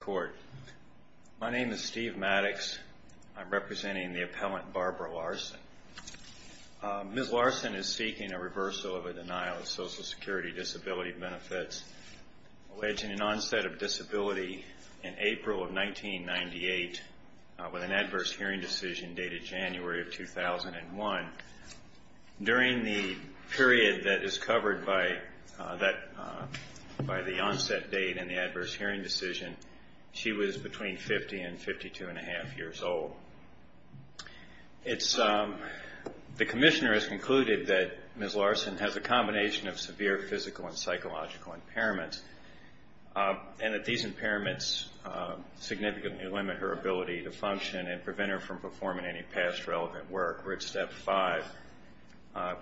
Court. My name is Steve Maddox. I'm representing the appellant Barbara Laursen. Ms. Laursen is seeking a reversal of a denial of Social Security disability benefits, alleging an onset of disability in April of 1998 with an adverse hearing decision dated January of 2001. During the period that is covered by the onset date and the adverse hearing decision, she was between 50 and 52 and a half years old. The commissioner has concluded that Ms. Laursen has a combination of severe physical and psychological impairments and that these impairments significantly limit her ability to function and prevent her from performing any past relevant work. We're at step five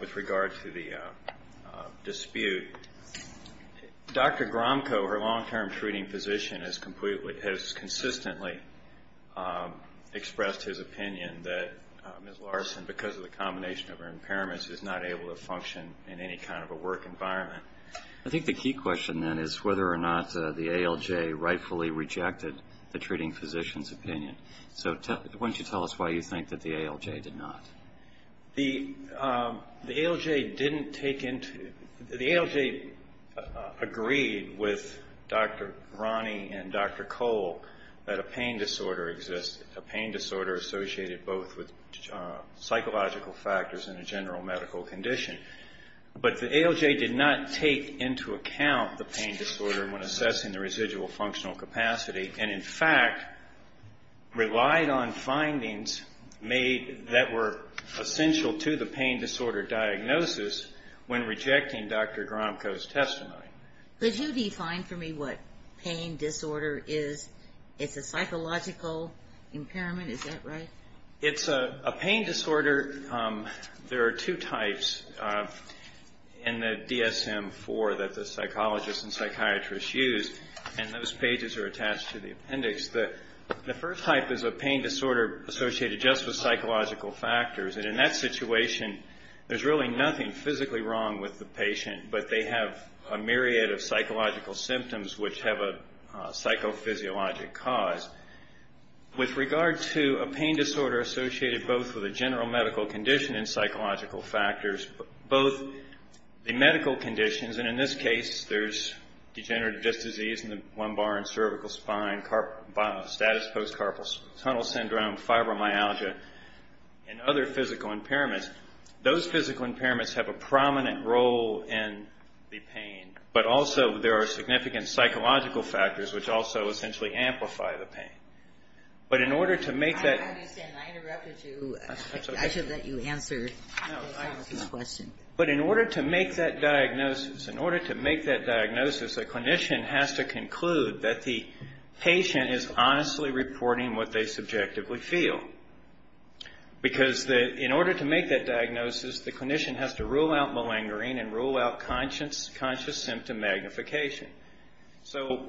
with regard to the dispute. Dr. Gromko, her long-term treating physician, has consistently expressed his opinion that Ms. Laursen, because of the combination of her impairments, is not able to function in any kind of a work environment. I think the key question then is whether or not the ALJ rightfully rejected the treating physician's opinion. So why don't you tell us why you think that the ALJ did not? The ALJ agreed with Dr. Brani and Dr. Cole that a pain disorder existed, a pain disorder associated both with psychological factors and a general medical condition. But the ALJ did not take into account the pain disorder when assessing the residual functional capacity. And, in fact, relied on findings made that were essential to the pain disorder diagnosis when rejecting Dr. Gromko's testimony. Could you define for me what pain disorder is? It's a psychological impairment, is that right? It's a pain disorder. There are two types in the DSM-IV that the psychologists and psychiatrists use, and those pages are attached to the appendix. The first type is a pain disorder associated just with psychological factors. And in that situation, there's really nothing physically wrong with the patient, but they have a myriad of psychological symptoms which have a psychophysiologic cause. With regard to a pain disorder associated both with a general medical condition and psychological factors, both the medical conditions, and in this case, there's degenerative disc disease in the lumbar and cervical spine, status post-carpal tunnel syndrome, fibromyalgia, and other physical impairments. Those physical impairments have a prominent role in the pain, but also there are significant psychological factors which also essentially amplify the pain. But in order to make that... I understand. I interrupted you. I should let you answer this question. But in order to make that diagnosis, a clinician has to conclude that the patient is honestly reporting what they subjectively feel. Because in order to make that diagnosis, the clinician has to rule out malingering and rule out conscious symptom magnification. So,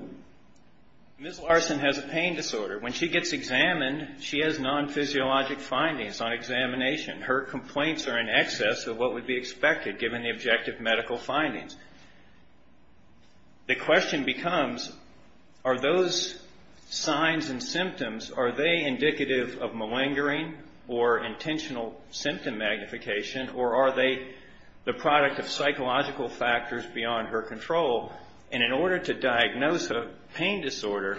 Ms. Larson has a pain disorder. When she gets examined, she has non-physiologic findings on examination. Her complaints are in excess of what would be expected given the objective medical findings. The question becomes, are those signs and symptoms, are they indicative of malingering or intentional symptom magnification, or are they the product of psychological factors beyond her control? And in order to diagnose a pain disorder,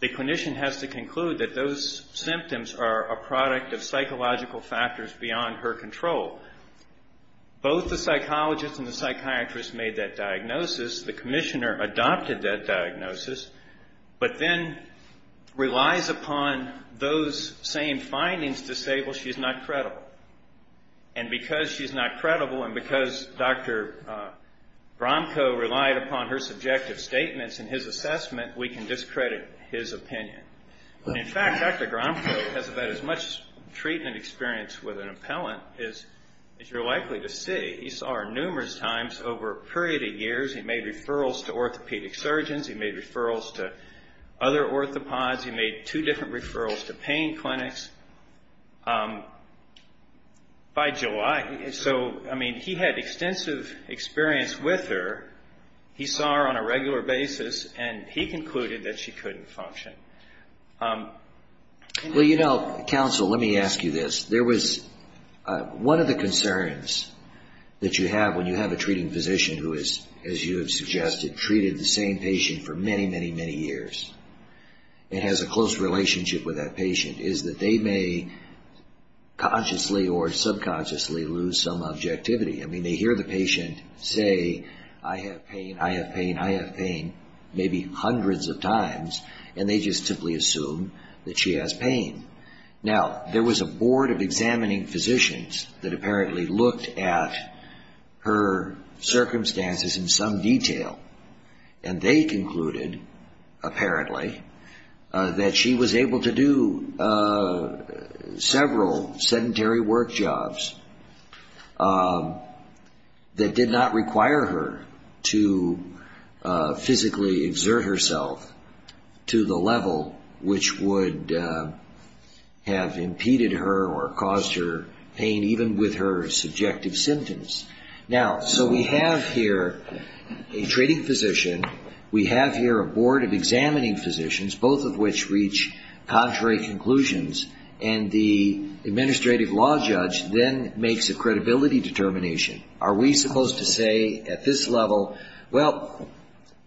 the clinician has to conclude that those symptoms are a product of psychological factors beyond her control. Both the psychologist and the psychiatrist made that diagnosis. The commissioner adopted that diagnosis, but then relies upon those same findings to say, well, she's not credible. And because she's not credible and because Dr. Gromko relied upon her subjective statements in his assessment, we can discredit his opinion. In fact, Dr. Gromko has about as much treatment experience with an appellant as you're likely to see. He saw her numerous times over a period of years. He made referrals to orthopedic surgeons. He made referrals to other orthopods. He made two different referrals to pain clinics by July. So, I mean, he had extensive experience with her. He saw her on a regular basis, and he concluded that she couldn't function. Well, you know, counsel, let me ask you this. There was one of the concerns that you have when you have a treating physician who is, as you have suggested, treated the same patient for many, many, many years. It has a close relationship with that patient, is that they may consciously or subconsciously lose some objectivity. I mean, they hear the patient say, I have pain, I have pain, I have pain, maybe hundreds of times, and they just simply assume that she has pain. Now, there was a board of examining physicians that apparently looked at her circumstances in some detail, and they concluded, apparently, that she was able to do several sedentary work jobs that did not require her to physically exert herself to the level which would have impeded her or caused her pain, even with her subjective symptoms. Now, so we have here a treating physician, we have here a board of examining physicians, both of which reach contrary conclusions, and the administrative law judge then makes a credibility determination. Are we supposed to say at this level, well,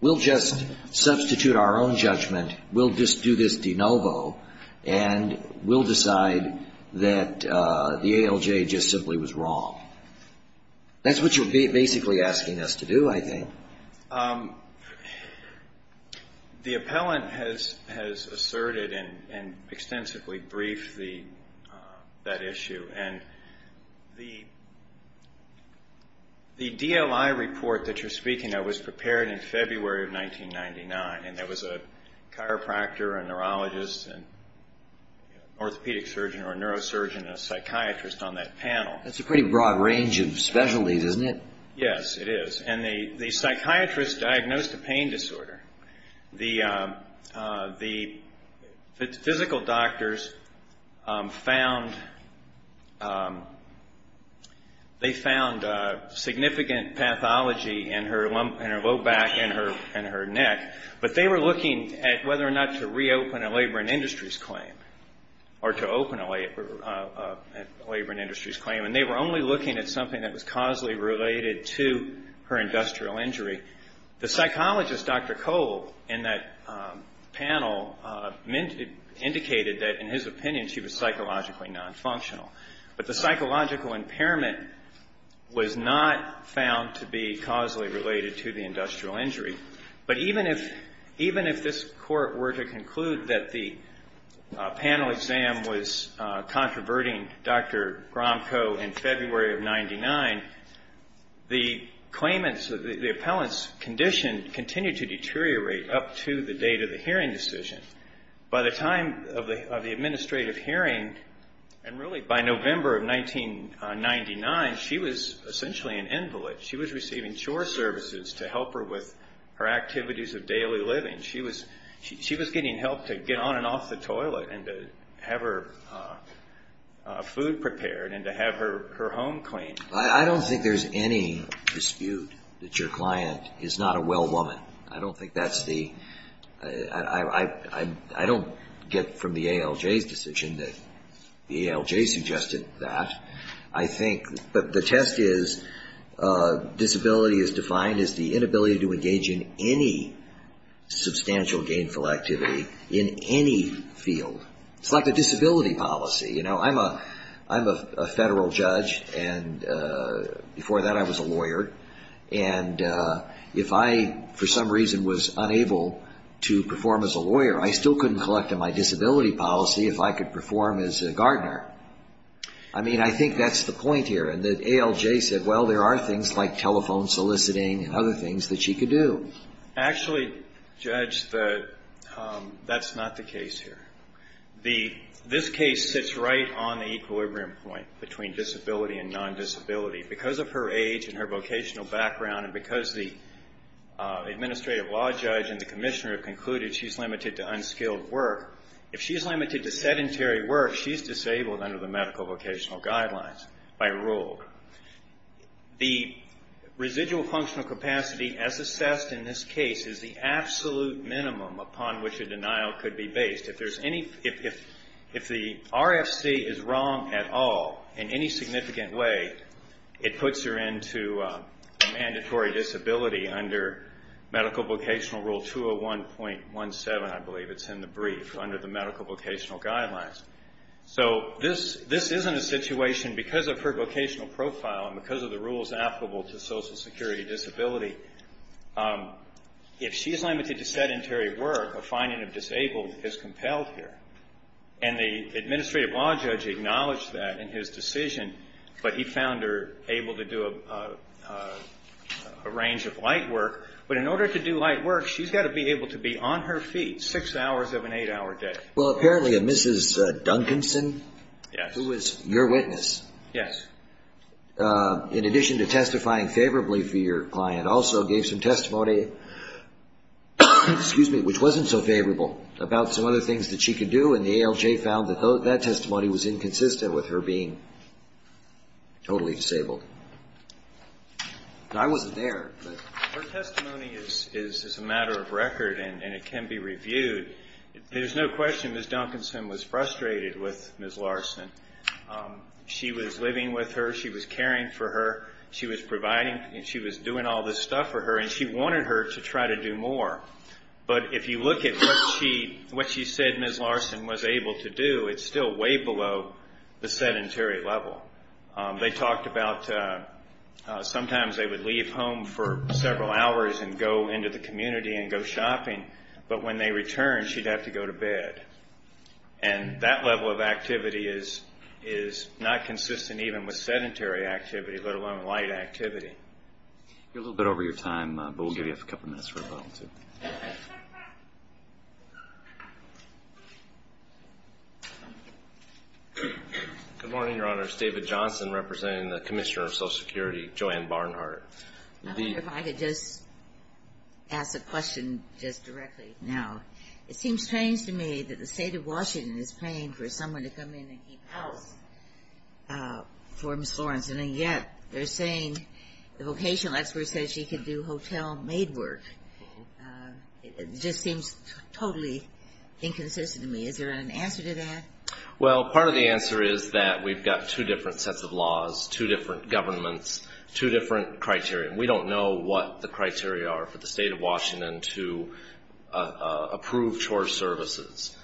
we'll just substitute our own judgment, we'll just do this de novo, and we'll decide that the ALJ just simply was wrong? That's what you're basically asking us to do, I think. The appellant has asserted and extensively briefed that issue, and the DLI report that you're speaking of was prepared in February of 1999, and there was a chiropractor, a neurologist, an orthopedic surgeon, or a neurosurgeon, and a psychiatrist on that panel. That's a pretty broad range of specialties, isn't it? Yes, it is, and the psychiatrist diagnosed a pain disorder. The physical doctors found significant pathology in her low back and her neck, but they were looking at whether or not to reopen a labor and industries claim, or to open a labor and industries claim, and they were only looking at something that was causally related to her industrial injury. The psychologist, Dr. Cole, in that panel indicated that, in his opinion, she was psychologically nonfunctional, but the psychological impairment was not found to be causally related to the industrial injury. But even if this court were to conclude that the panel exam was controverting Dr. Gromko in February of 1999, the claimants, the appellant's condition continued to deteriorate up to the date of the hearing decision. By the time of the administrative hearing, and really by November of 1999, she was essentially an invalid. She was receiving chore services to help her with her activities of daily living. She was getting help to get on and off the toilet and to have her food prepared and to have her home cleaned. I don't think there's any dispute that your client is not a well woman. I don't think that's the – I don't get from the ALJ's decision that the ALJ suggested that. I think – but the test is disability is defined as the inability to engage in any substantial gainful activity in any field. It's like a disability policy. I'm a federal judge, and before that I was a lawyer. And if I, for some reason, was unable to perform as a lawyer, I still couldn't collect on my disability policy if I could perform as a gardener. I mean, I think that's the point here. And the ALJ said, well, there are things like telephone soliciting and other things that she could do. Actually, Judge, that's not the case here. This case sits right on the equilibrium point between disability and non-disability. Because of her age and her vocational background, and because the administrative law judge and the commissioner have concluded she's limited to unskilled work, if she's limited to sedentary work, she's disabled under the medical vocational guidelines by rule. The residual functional capacity as assessed in this case is the absolute minimum upon which a denial could be based. If there's any – if the RFC is wrong at all in any significant way, it puts her into mandatory disability under medical vocational rule 201.17, I believe. It's in the brief under the medical vocational guidelines. So this isn't a situation because of her vocational profile and because of the rules applicable to social security disability. If she's limited to sedentary work, a finding of disabled is compelled here. And the administrative law judge acknowledged that in his decision, but he found her able to do a range of light work. But in order to do light work, she's got to be able to be on her feet six hours of an eight-hour day. Well, apparently a Mrs. Duncanson, who was your witness. Yes. In addition to testifying favorably for your client, also gave some testimony, excuse me, which wasn't so favorable, about some other things that she could do. And the ALJ found that that testimony was inconsistent with her being totally disabled. And I wasn't there. Her testimony is a matter of record, and it can be reviewed. There's no question Mrs. Duncanson was frustrated with Ms. Larson. She was living with her. She was caring for her. She was providing, and she was doing all this stuff for her, and she wanted her to try to do more. But if you look at what she said Ms. Larson was able to do, it's still way below the sedentary level. They talked about sometimes they would leave home for several hours and go into the community and go shopping. But when they returned, she'd have to go to bed. And that level of activity is not consistent even with sedentary activity, let alone light activity. You're a little bit over your time, but we'll give you a couple minutes for a moment or two. Good morning, Your Honors. David Johnson representing the Commissioner of Social Security, Joanne Barnhart. I wonder if I could just ask a question just directly now. It seems strange to me that the State of Washington is paying for someone to come in and keep house for Ms. Lawrence. And yet they're saying the vocational expert said she could do hotel maid work. It just seems totally inconsistent to me. Is there an answer to that? Well, part of the answer is that we've got two different sets of laws, two different governments, two different criteria. We don't know what the criteria are for the State of Washington to approve chore services.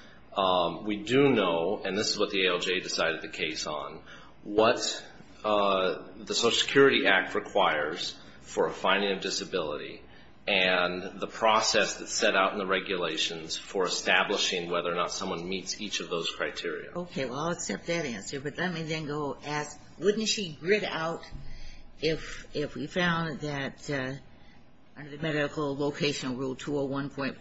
We do know, and this is what the ALJ decided the case on, what the Social Security Act requires for a finding of disability and the process that's set out in the regulations for establishing whether or not someone meets each of those criteria. Okay, well, I'll accept that answer, but let me then go ask, wouldn't she grid out if we found that under the medical vocational rule 201.14,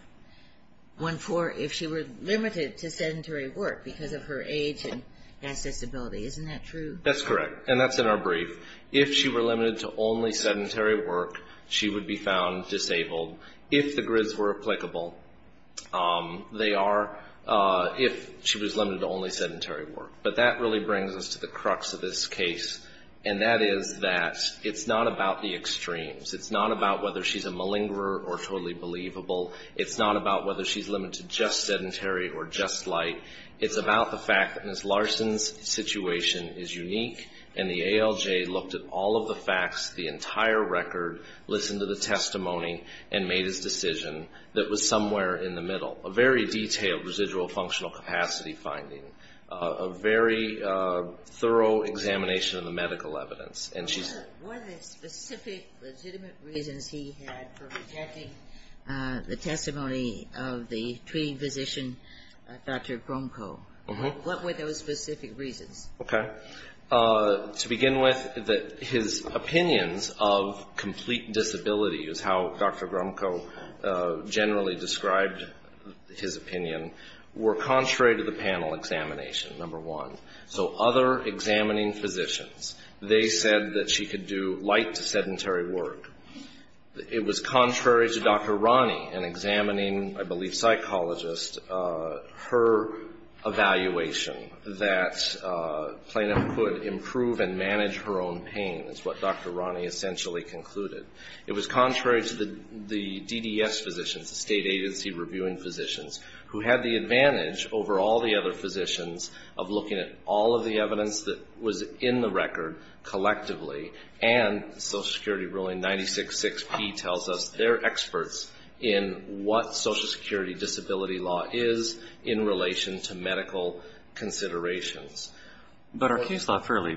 if she were limited to sedentary work because of her age and accessibility? Isn't that true? That's correct, and that's in our brief. If she were limited to only sedentary work, she would be found disabled. If the grids were applicable, they are if she was limited to only sedentary work. But that really brings us to the crux of this case, and that is that it's not about the extremes. It's not about whether she's a malingerer or totally believable. It's not about whether she's limited to just sedentary or just light. It's about the fact that Ms. Larson's situation is unique, and the ALJ looked at all of the facts, the entire record, listened to the testimony, and made his decision that was somewhere in the middle. A very detailed residual functional capacity finding, a very thorough examination of the medical evidence, and she's What are the specific legitimate reasons he had for rejecting the testimony of the treating physician, Dr. Gromko? What were those specific reasons? Okay. To begin with, his opinions of complete disability is how Dr. Gromko generally described his opinion, were contrary to the panel examination, number one. So other examining physicians, they said that she could do light to sedentary work. It was contrary to Dr. Rani in examining, I believe, psychologists. Her evaluation that Plano could improve and manage her own pain is what Dr. Rani essentially concluded. It was contrary to the DDS physicians, the state agency reviewing physicians, who had the advantage over all the other physicians of looking at all of the evidence that was in the record collectively, and Social Security ruling 966P tells us they're experts in what Social Security disability law is in relation to medical considerations. But our case law fairly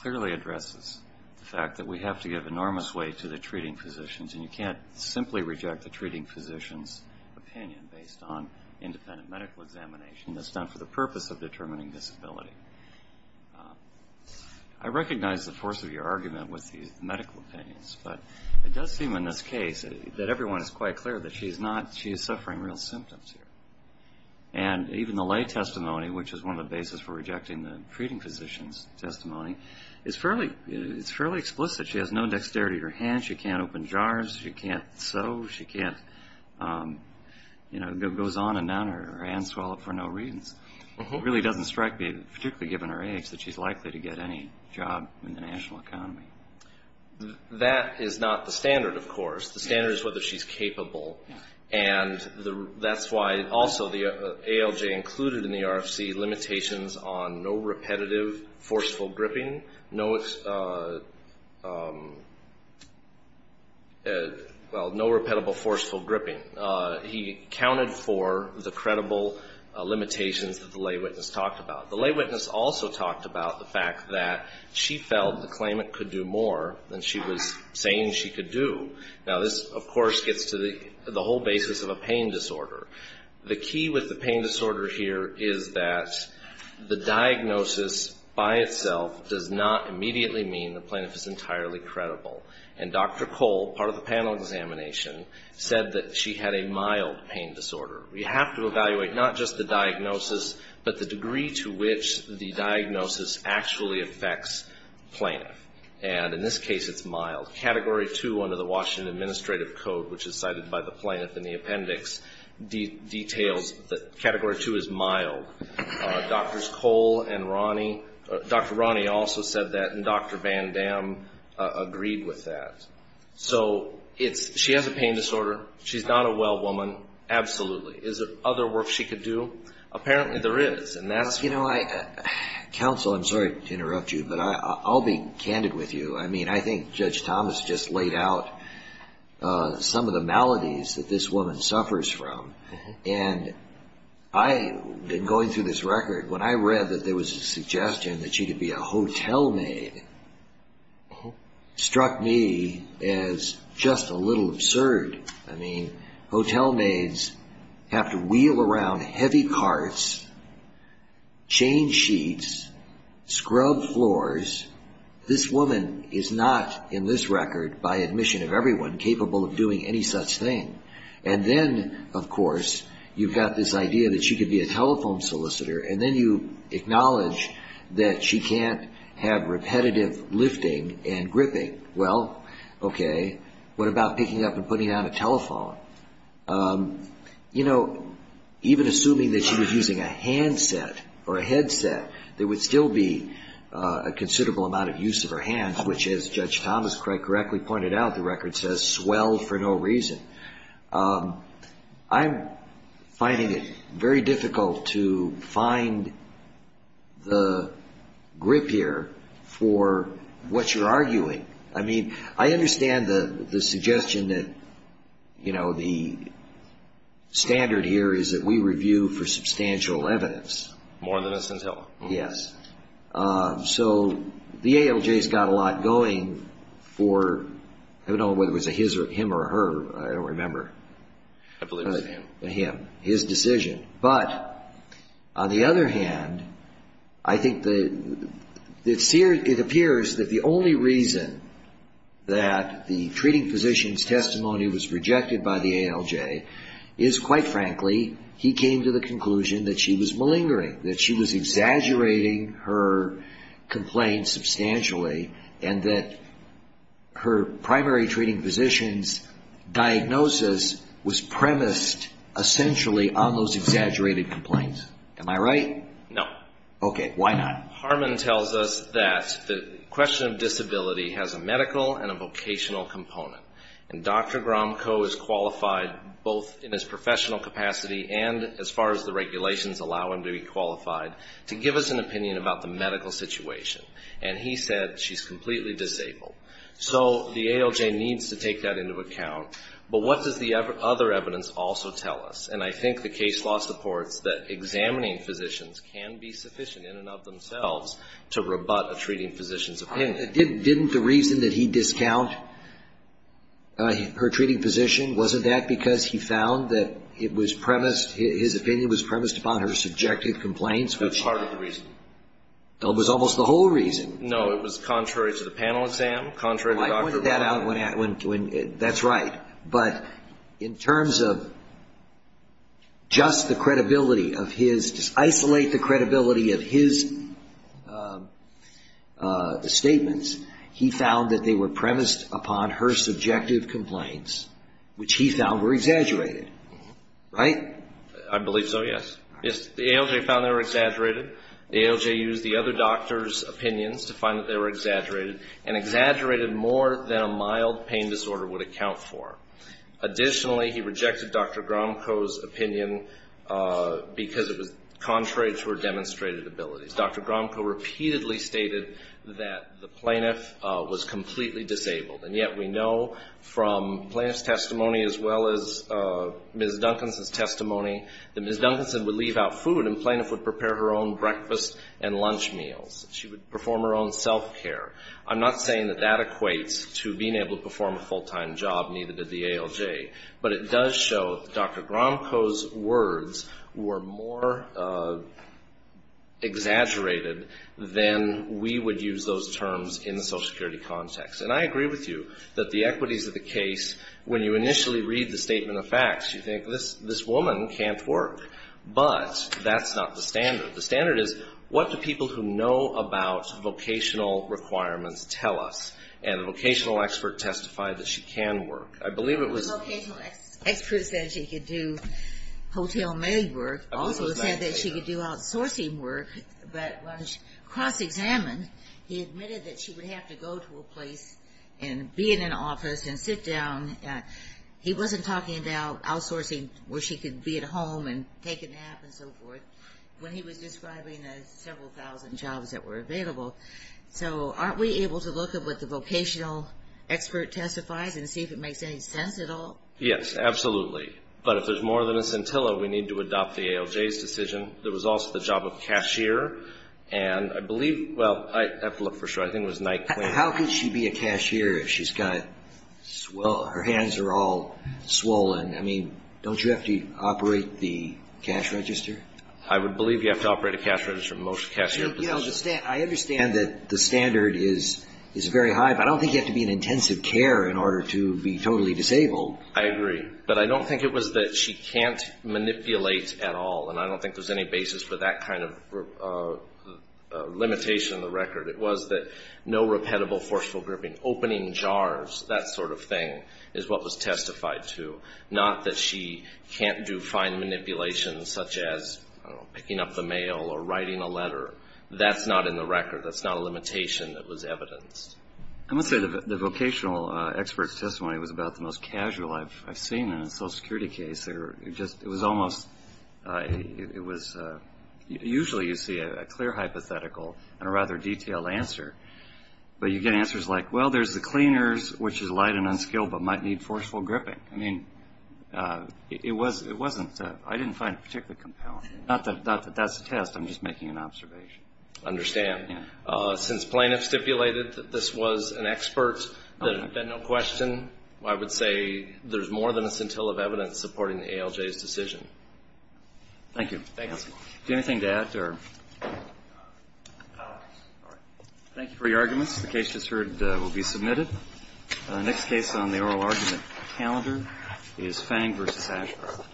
clearly addresses the fact that we have to give enormous weight to the treating physicians, and you can't simply reject the treating physician's opinion based on independent medical examination that's done for the purpose of determining disability. I recognize the force of your argument with these medical opinions, but it does seem in this case that everyone is quite clear that she is suffering real symptoms here. And even the lay testimony, which is one of the bases for rejecting the treating physician's testimony, is fairly explicit. She has no dexterity to her hands. She can't open jars. She can't sew. She can't, you know, it goes on and on. Her hands swell up for no reason. It really doesn't strike me, particularly given her age, that she's likely to get any job in the national economy. That is not the standard, of course. The standard is whether she's capable, and that's why also the ALJ included in the RFC limitations on no repetitive forceful gripping, no, well, no repetitive forceful gripping. He accounted for the credible limitations that the lay witness talked about. The lay witness also talked about the fact that she felt the claimant could do more than she was saying she could do. Now, this, of course, gets to the whole basis of a pain disorder. The key with the pain disorder here is that the diagnosis by itself does not immediately mean the plaintiff is entirely credible. And Dr. Cole, part of the panel examination, said that she had a mild pain disorder. We have to evaluate not just the diagnosis, but the degree to which the diagnosis actually affects the plaintiff. And in this case, it's mild. Category 2 under the Washington Administrative Code, which is cited by the plaintiff in the appendix, details that category 2 is mild. Drs. Cole and Ronnie, Dr. Ronnie also said that, and Dr. Van Dam agreed with that. So she has a pain disorder. She's not a well woman. Absolutely. Is there other work she could do? Apparently there is, and that's why. Counsel, I'm sorry to interrupt you, but I'll be candid with you. I mean, I think Judge Thomas just laid out some of the maladies that this woman suffers from. And I, in going through this record, when I read that there was a suggestion that she could be a hotel maid, struck me as just a little absurd. I mean, hotel maids have to wheel around heavy carts, change sheets, scrub floors. This woman is not, in this record, by admission of everyone, capable of doing any such thing. And then, of course, you've got this idea that she could be a telephone solicitor. And then you acknowledge that she can't have repetitive lifting and gripping. Well, okay, what about picking up and putting on a telephone? You know, even assuming that she was using a handset or a headset, there would still be a considerable amount of use of her hands, which, as Judge Thomas quite correctly pointed out, the record says, swell for no reason. I'm finding it very difficult to find the grip here for what you're arguing. I mean, I understand the suggestion that, you know, the standard here is that we review for substantial evidence. More than us until. Yes. So the ALJ has got a lot going for, I don't know whether it was a him or a her, I don't remember. I believe it was a him. A him, his decision. But on the other hand, I think it appears that the only reason that the treating physician's testimony was rejected by the ALJ is, quite frankly, he came to the conclusion that she was malingering, that she was exaggerating her complaints substantially, and that her primary treating physician's diagnosis was premised essentially on those exaggerated complaints. Am I right? No. Okay. Why not? Harmon tells us that the question of disability has a medical and a vocational component. And Dr. Gromko is qualified, both in his professional capacity and as far as the regulations allow him to be qualified, to give us an opinion about the medical situation. And he said she's completely disabled. So the ALJ needs to take that into account. But what does the other evidence also tell us? And I think the case law supports that examining physicians can be sufficient in and of themselves to rebut a treating physician's opinion. Didn't the reason that he discounted her treating physician, wasn't that because he found that it was premised, his opinion was premised upon her subjective complaints? That's part of the reason. It was almost the whole reason. No, it was contrary to the panel exam, contrary to Dr. Gromko. I pointed that out when, that's right. But in terms of just the credibility of his, just isolate the credibility of his statements, he found that they were premised upon her subjective complaints, which he found were exaggerated. Right? I believe so, yes. The ALJ found they were exaggerated. The ALJ used the other doctor's opinions to find that they were exaggerated, and exaggerated more than a mild pain disorder would account for. Additionally, he rejected Dr. Gromko's opinion because it was contrary to her demonstrated abilities. Dr. Gromko repeatedly stated that the plaintiff was completely disabled. And yet we know from plaintiff's testimony as well as Ms. Duncanson's testimony, that Ms. Duncanson would leave out food and the plaintiff would prepare her own breakfast and lunch meals. She would perform her own self-care. I'm not saying that that equates to being able to perform a full-time job needed at the ALJ, but it does show that Dr. Gromko's words were more exaggerated than we would use those terms in the social security context. And I agree with you that the equities of the case, when you initially read the statement of facts, you think, this woman can't work. But that's not the standard. The standard is, what do people who know about vocational requirements tell us? And the vocational expert testified that she can work. I believe it was The vocational expert said she could do hotel maid work, also said that she could do outsourcing work, but when she cross-examined, he admitted that she would have to go to a place and be in an office and sit down. He wasn't talking about outsourcing where she could be at home and take a nap and so forth when he was describing the several thousand jobs that were available. So aren't we able to look at what the vocational expert testifies and see if it makes any sense at all? Yes, absolutely. But if there's more than a scintilla, we need to adopt the ALJ's decision. There was also the job of cashier, and I believe, well, I have to look for sure. I think it was Nike. How could she be a cashier if she's got swollen, her hands are all swollen? I mean, don't you have to operate the cash register? I would believe you have to operate a cash register in most cashier positions. I understand that the standard is very high, but I don't think you have to be in intensive care in order to be totally disabled. I agree. But I don't think it was that she can't manipulate at all, and I don't think there's any basis for that kind of limitation in the record. It was that no repetible forceful gripping, opening jars, that sort of thing, is what was testified to, not that she can't do fine manipulations such as, I don't know, picking up the mail or writing a letter. That's not in the record. That's not a limitation that was evidenced. I must say the vocational expert's testimony was about the most casual I've seen in a Social Security case. It was almost, it was, usually you see a clear hypothetical and a rather detailed answer, but you get answers like, well, there's the cleaners, which is light and unskilled, but might need forceful gripping. I mean, it wasn't, I didn't find it particularly compelling. Not that that's a test. I'm just making an observation. I understand. Since plaintiffs stipulated that this was an expert, then no question, I would say there's more than a scintilla of evidence supporting the ALJ's decision. Thank you. Anything to add? Thank you for your arguments. The case just heard will be submitted. The next case on the oral argument calendar is Fang v. Ashcroft.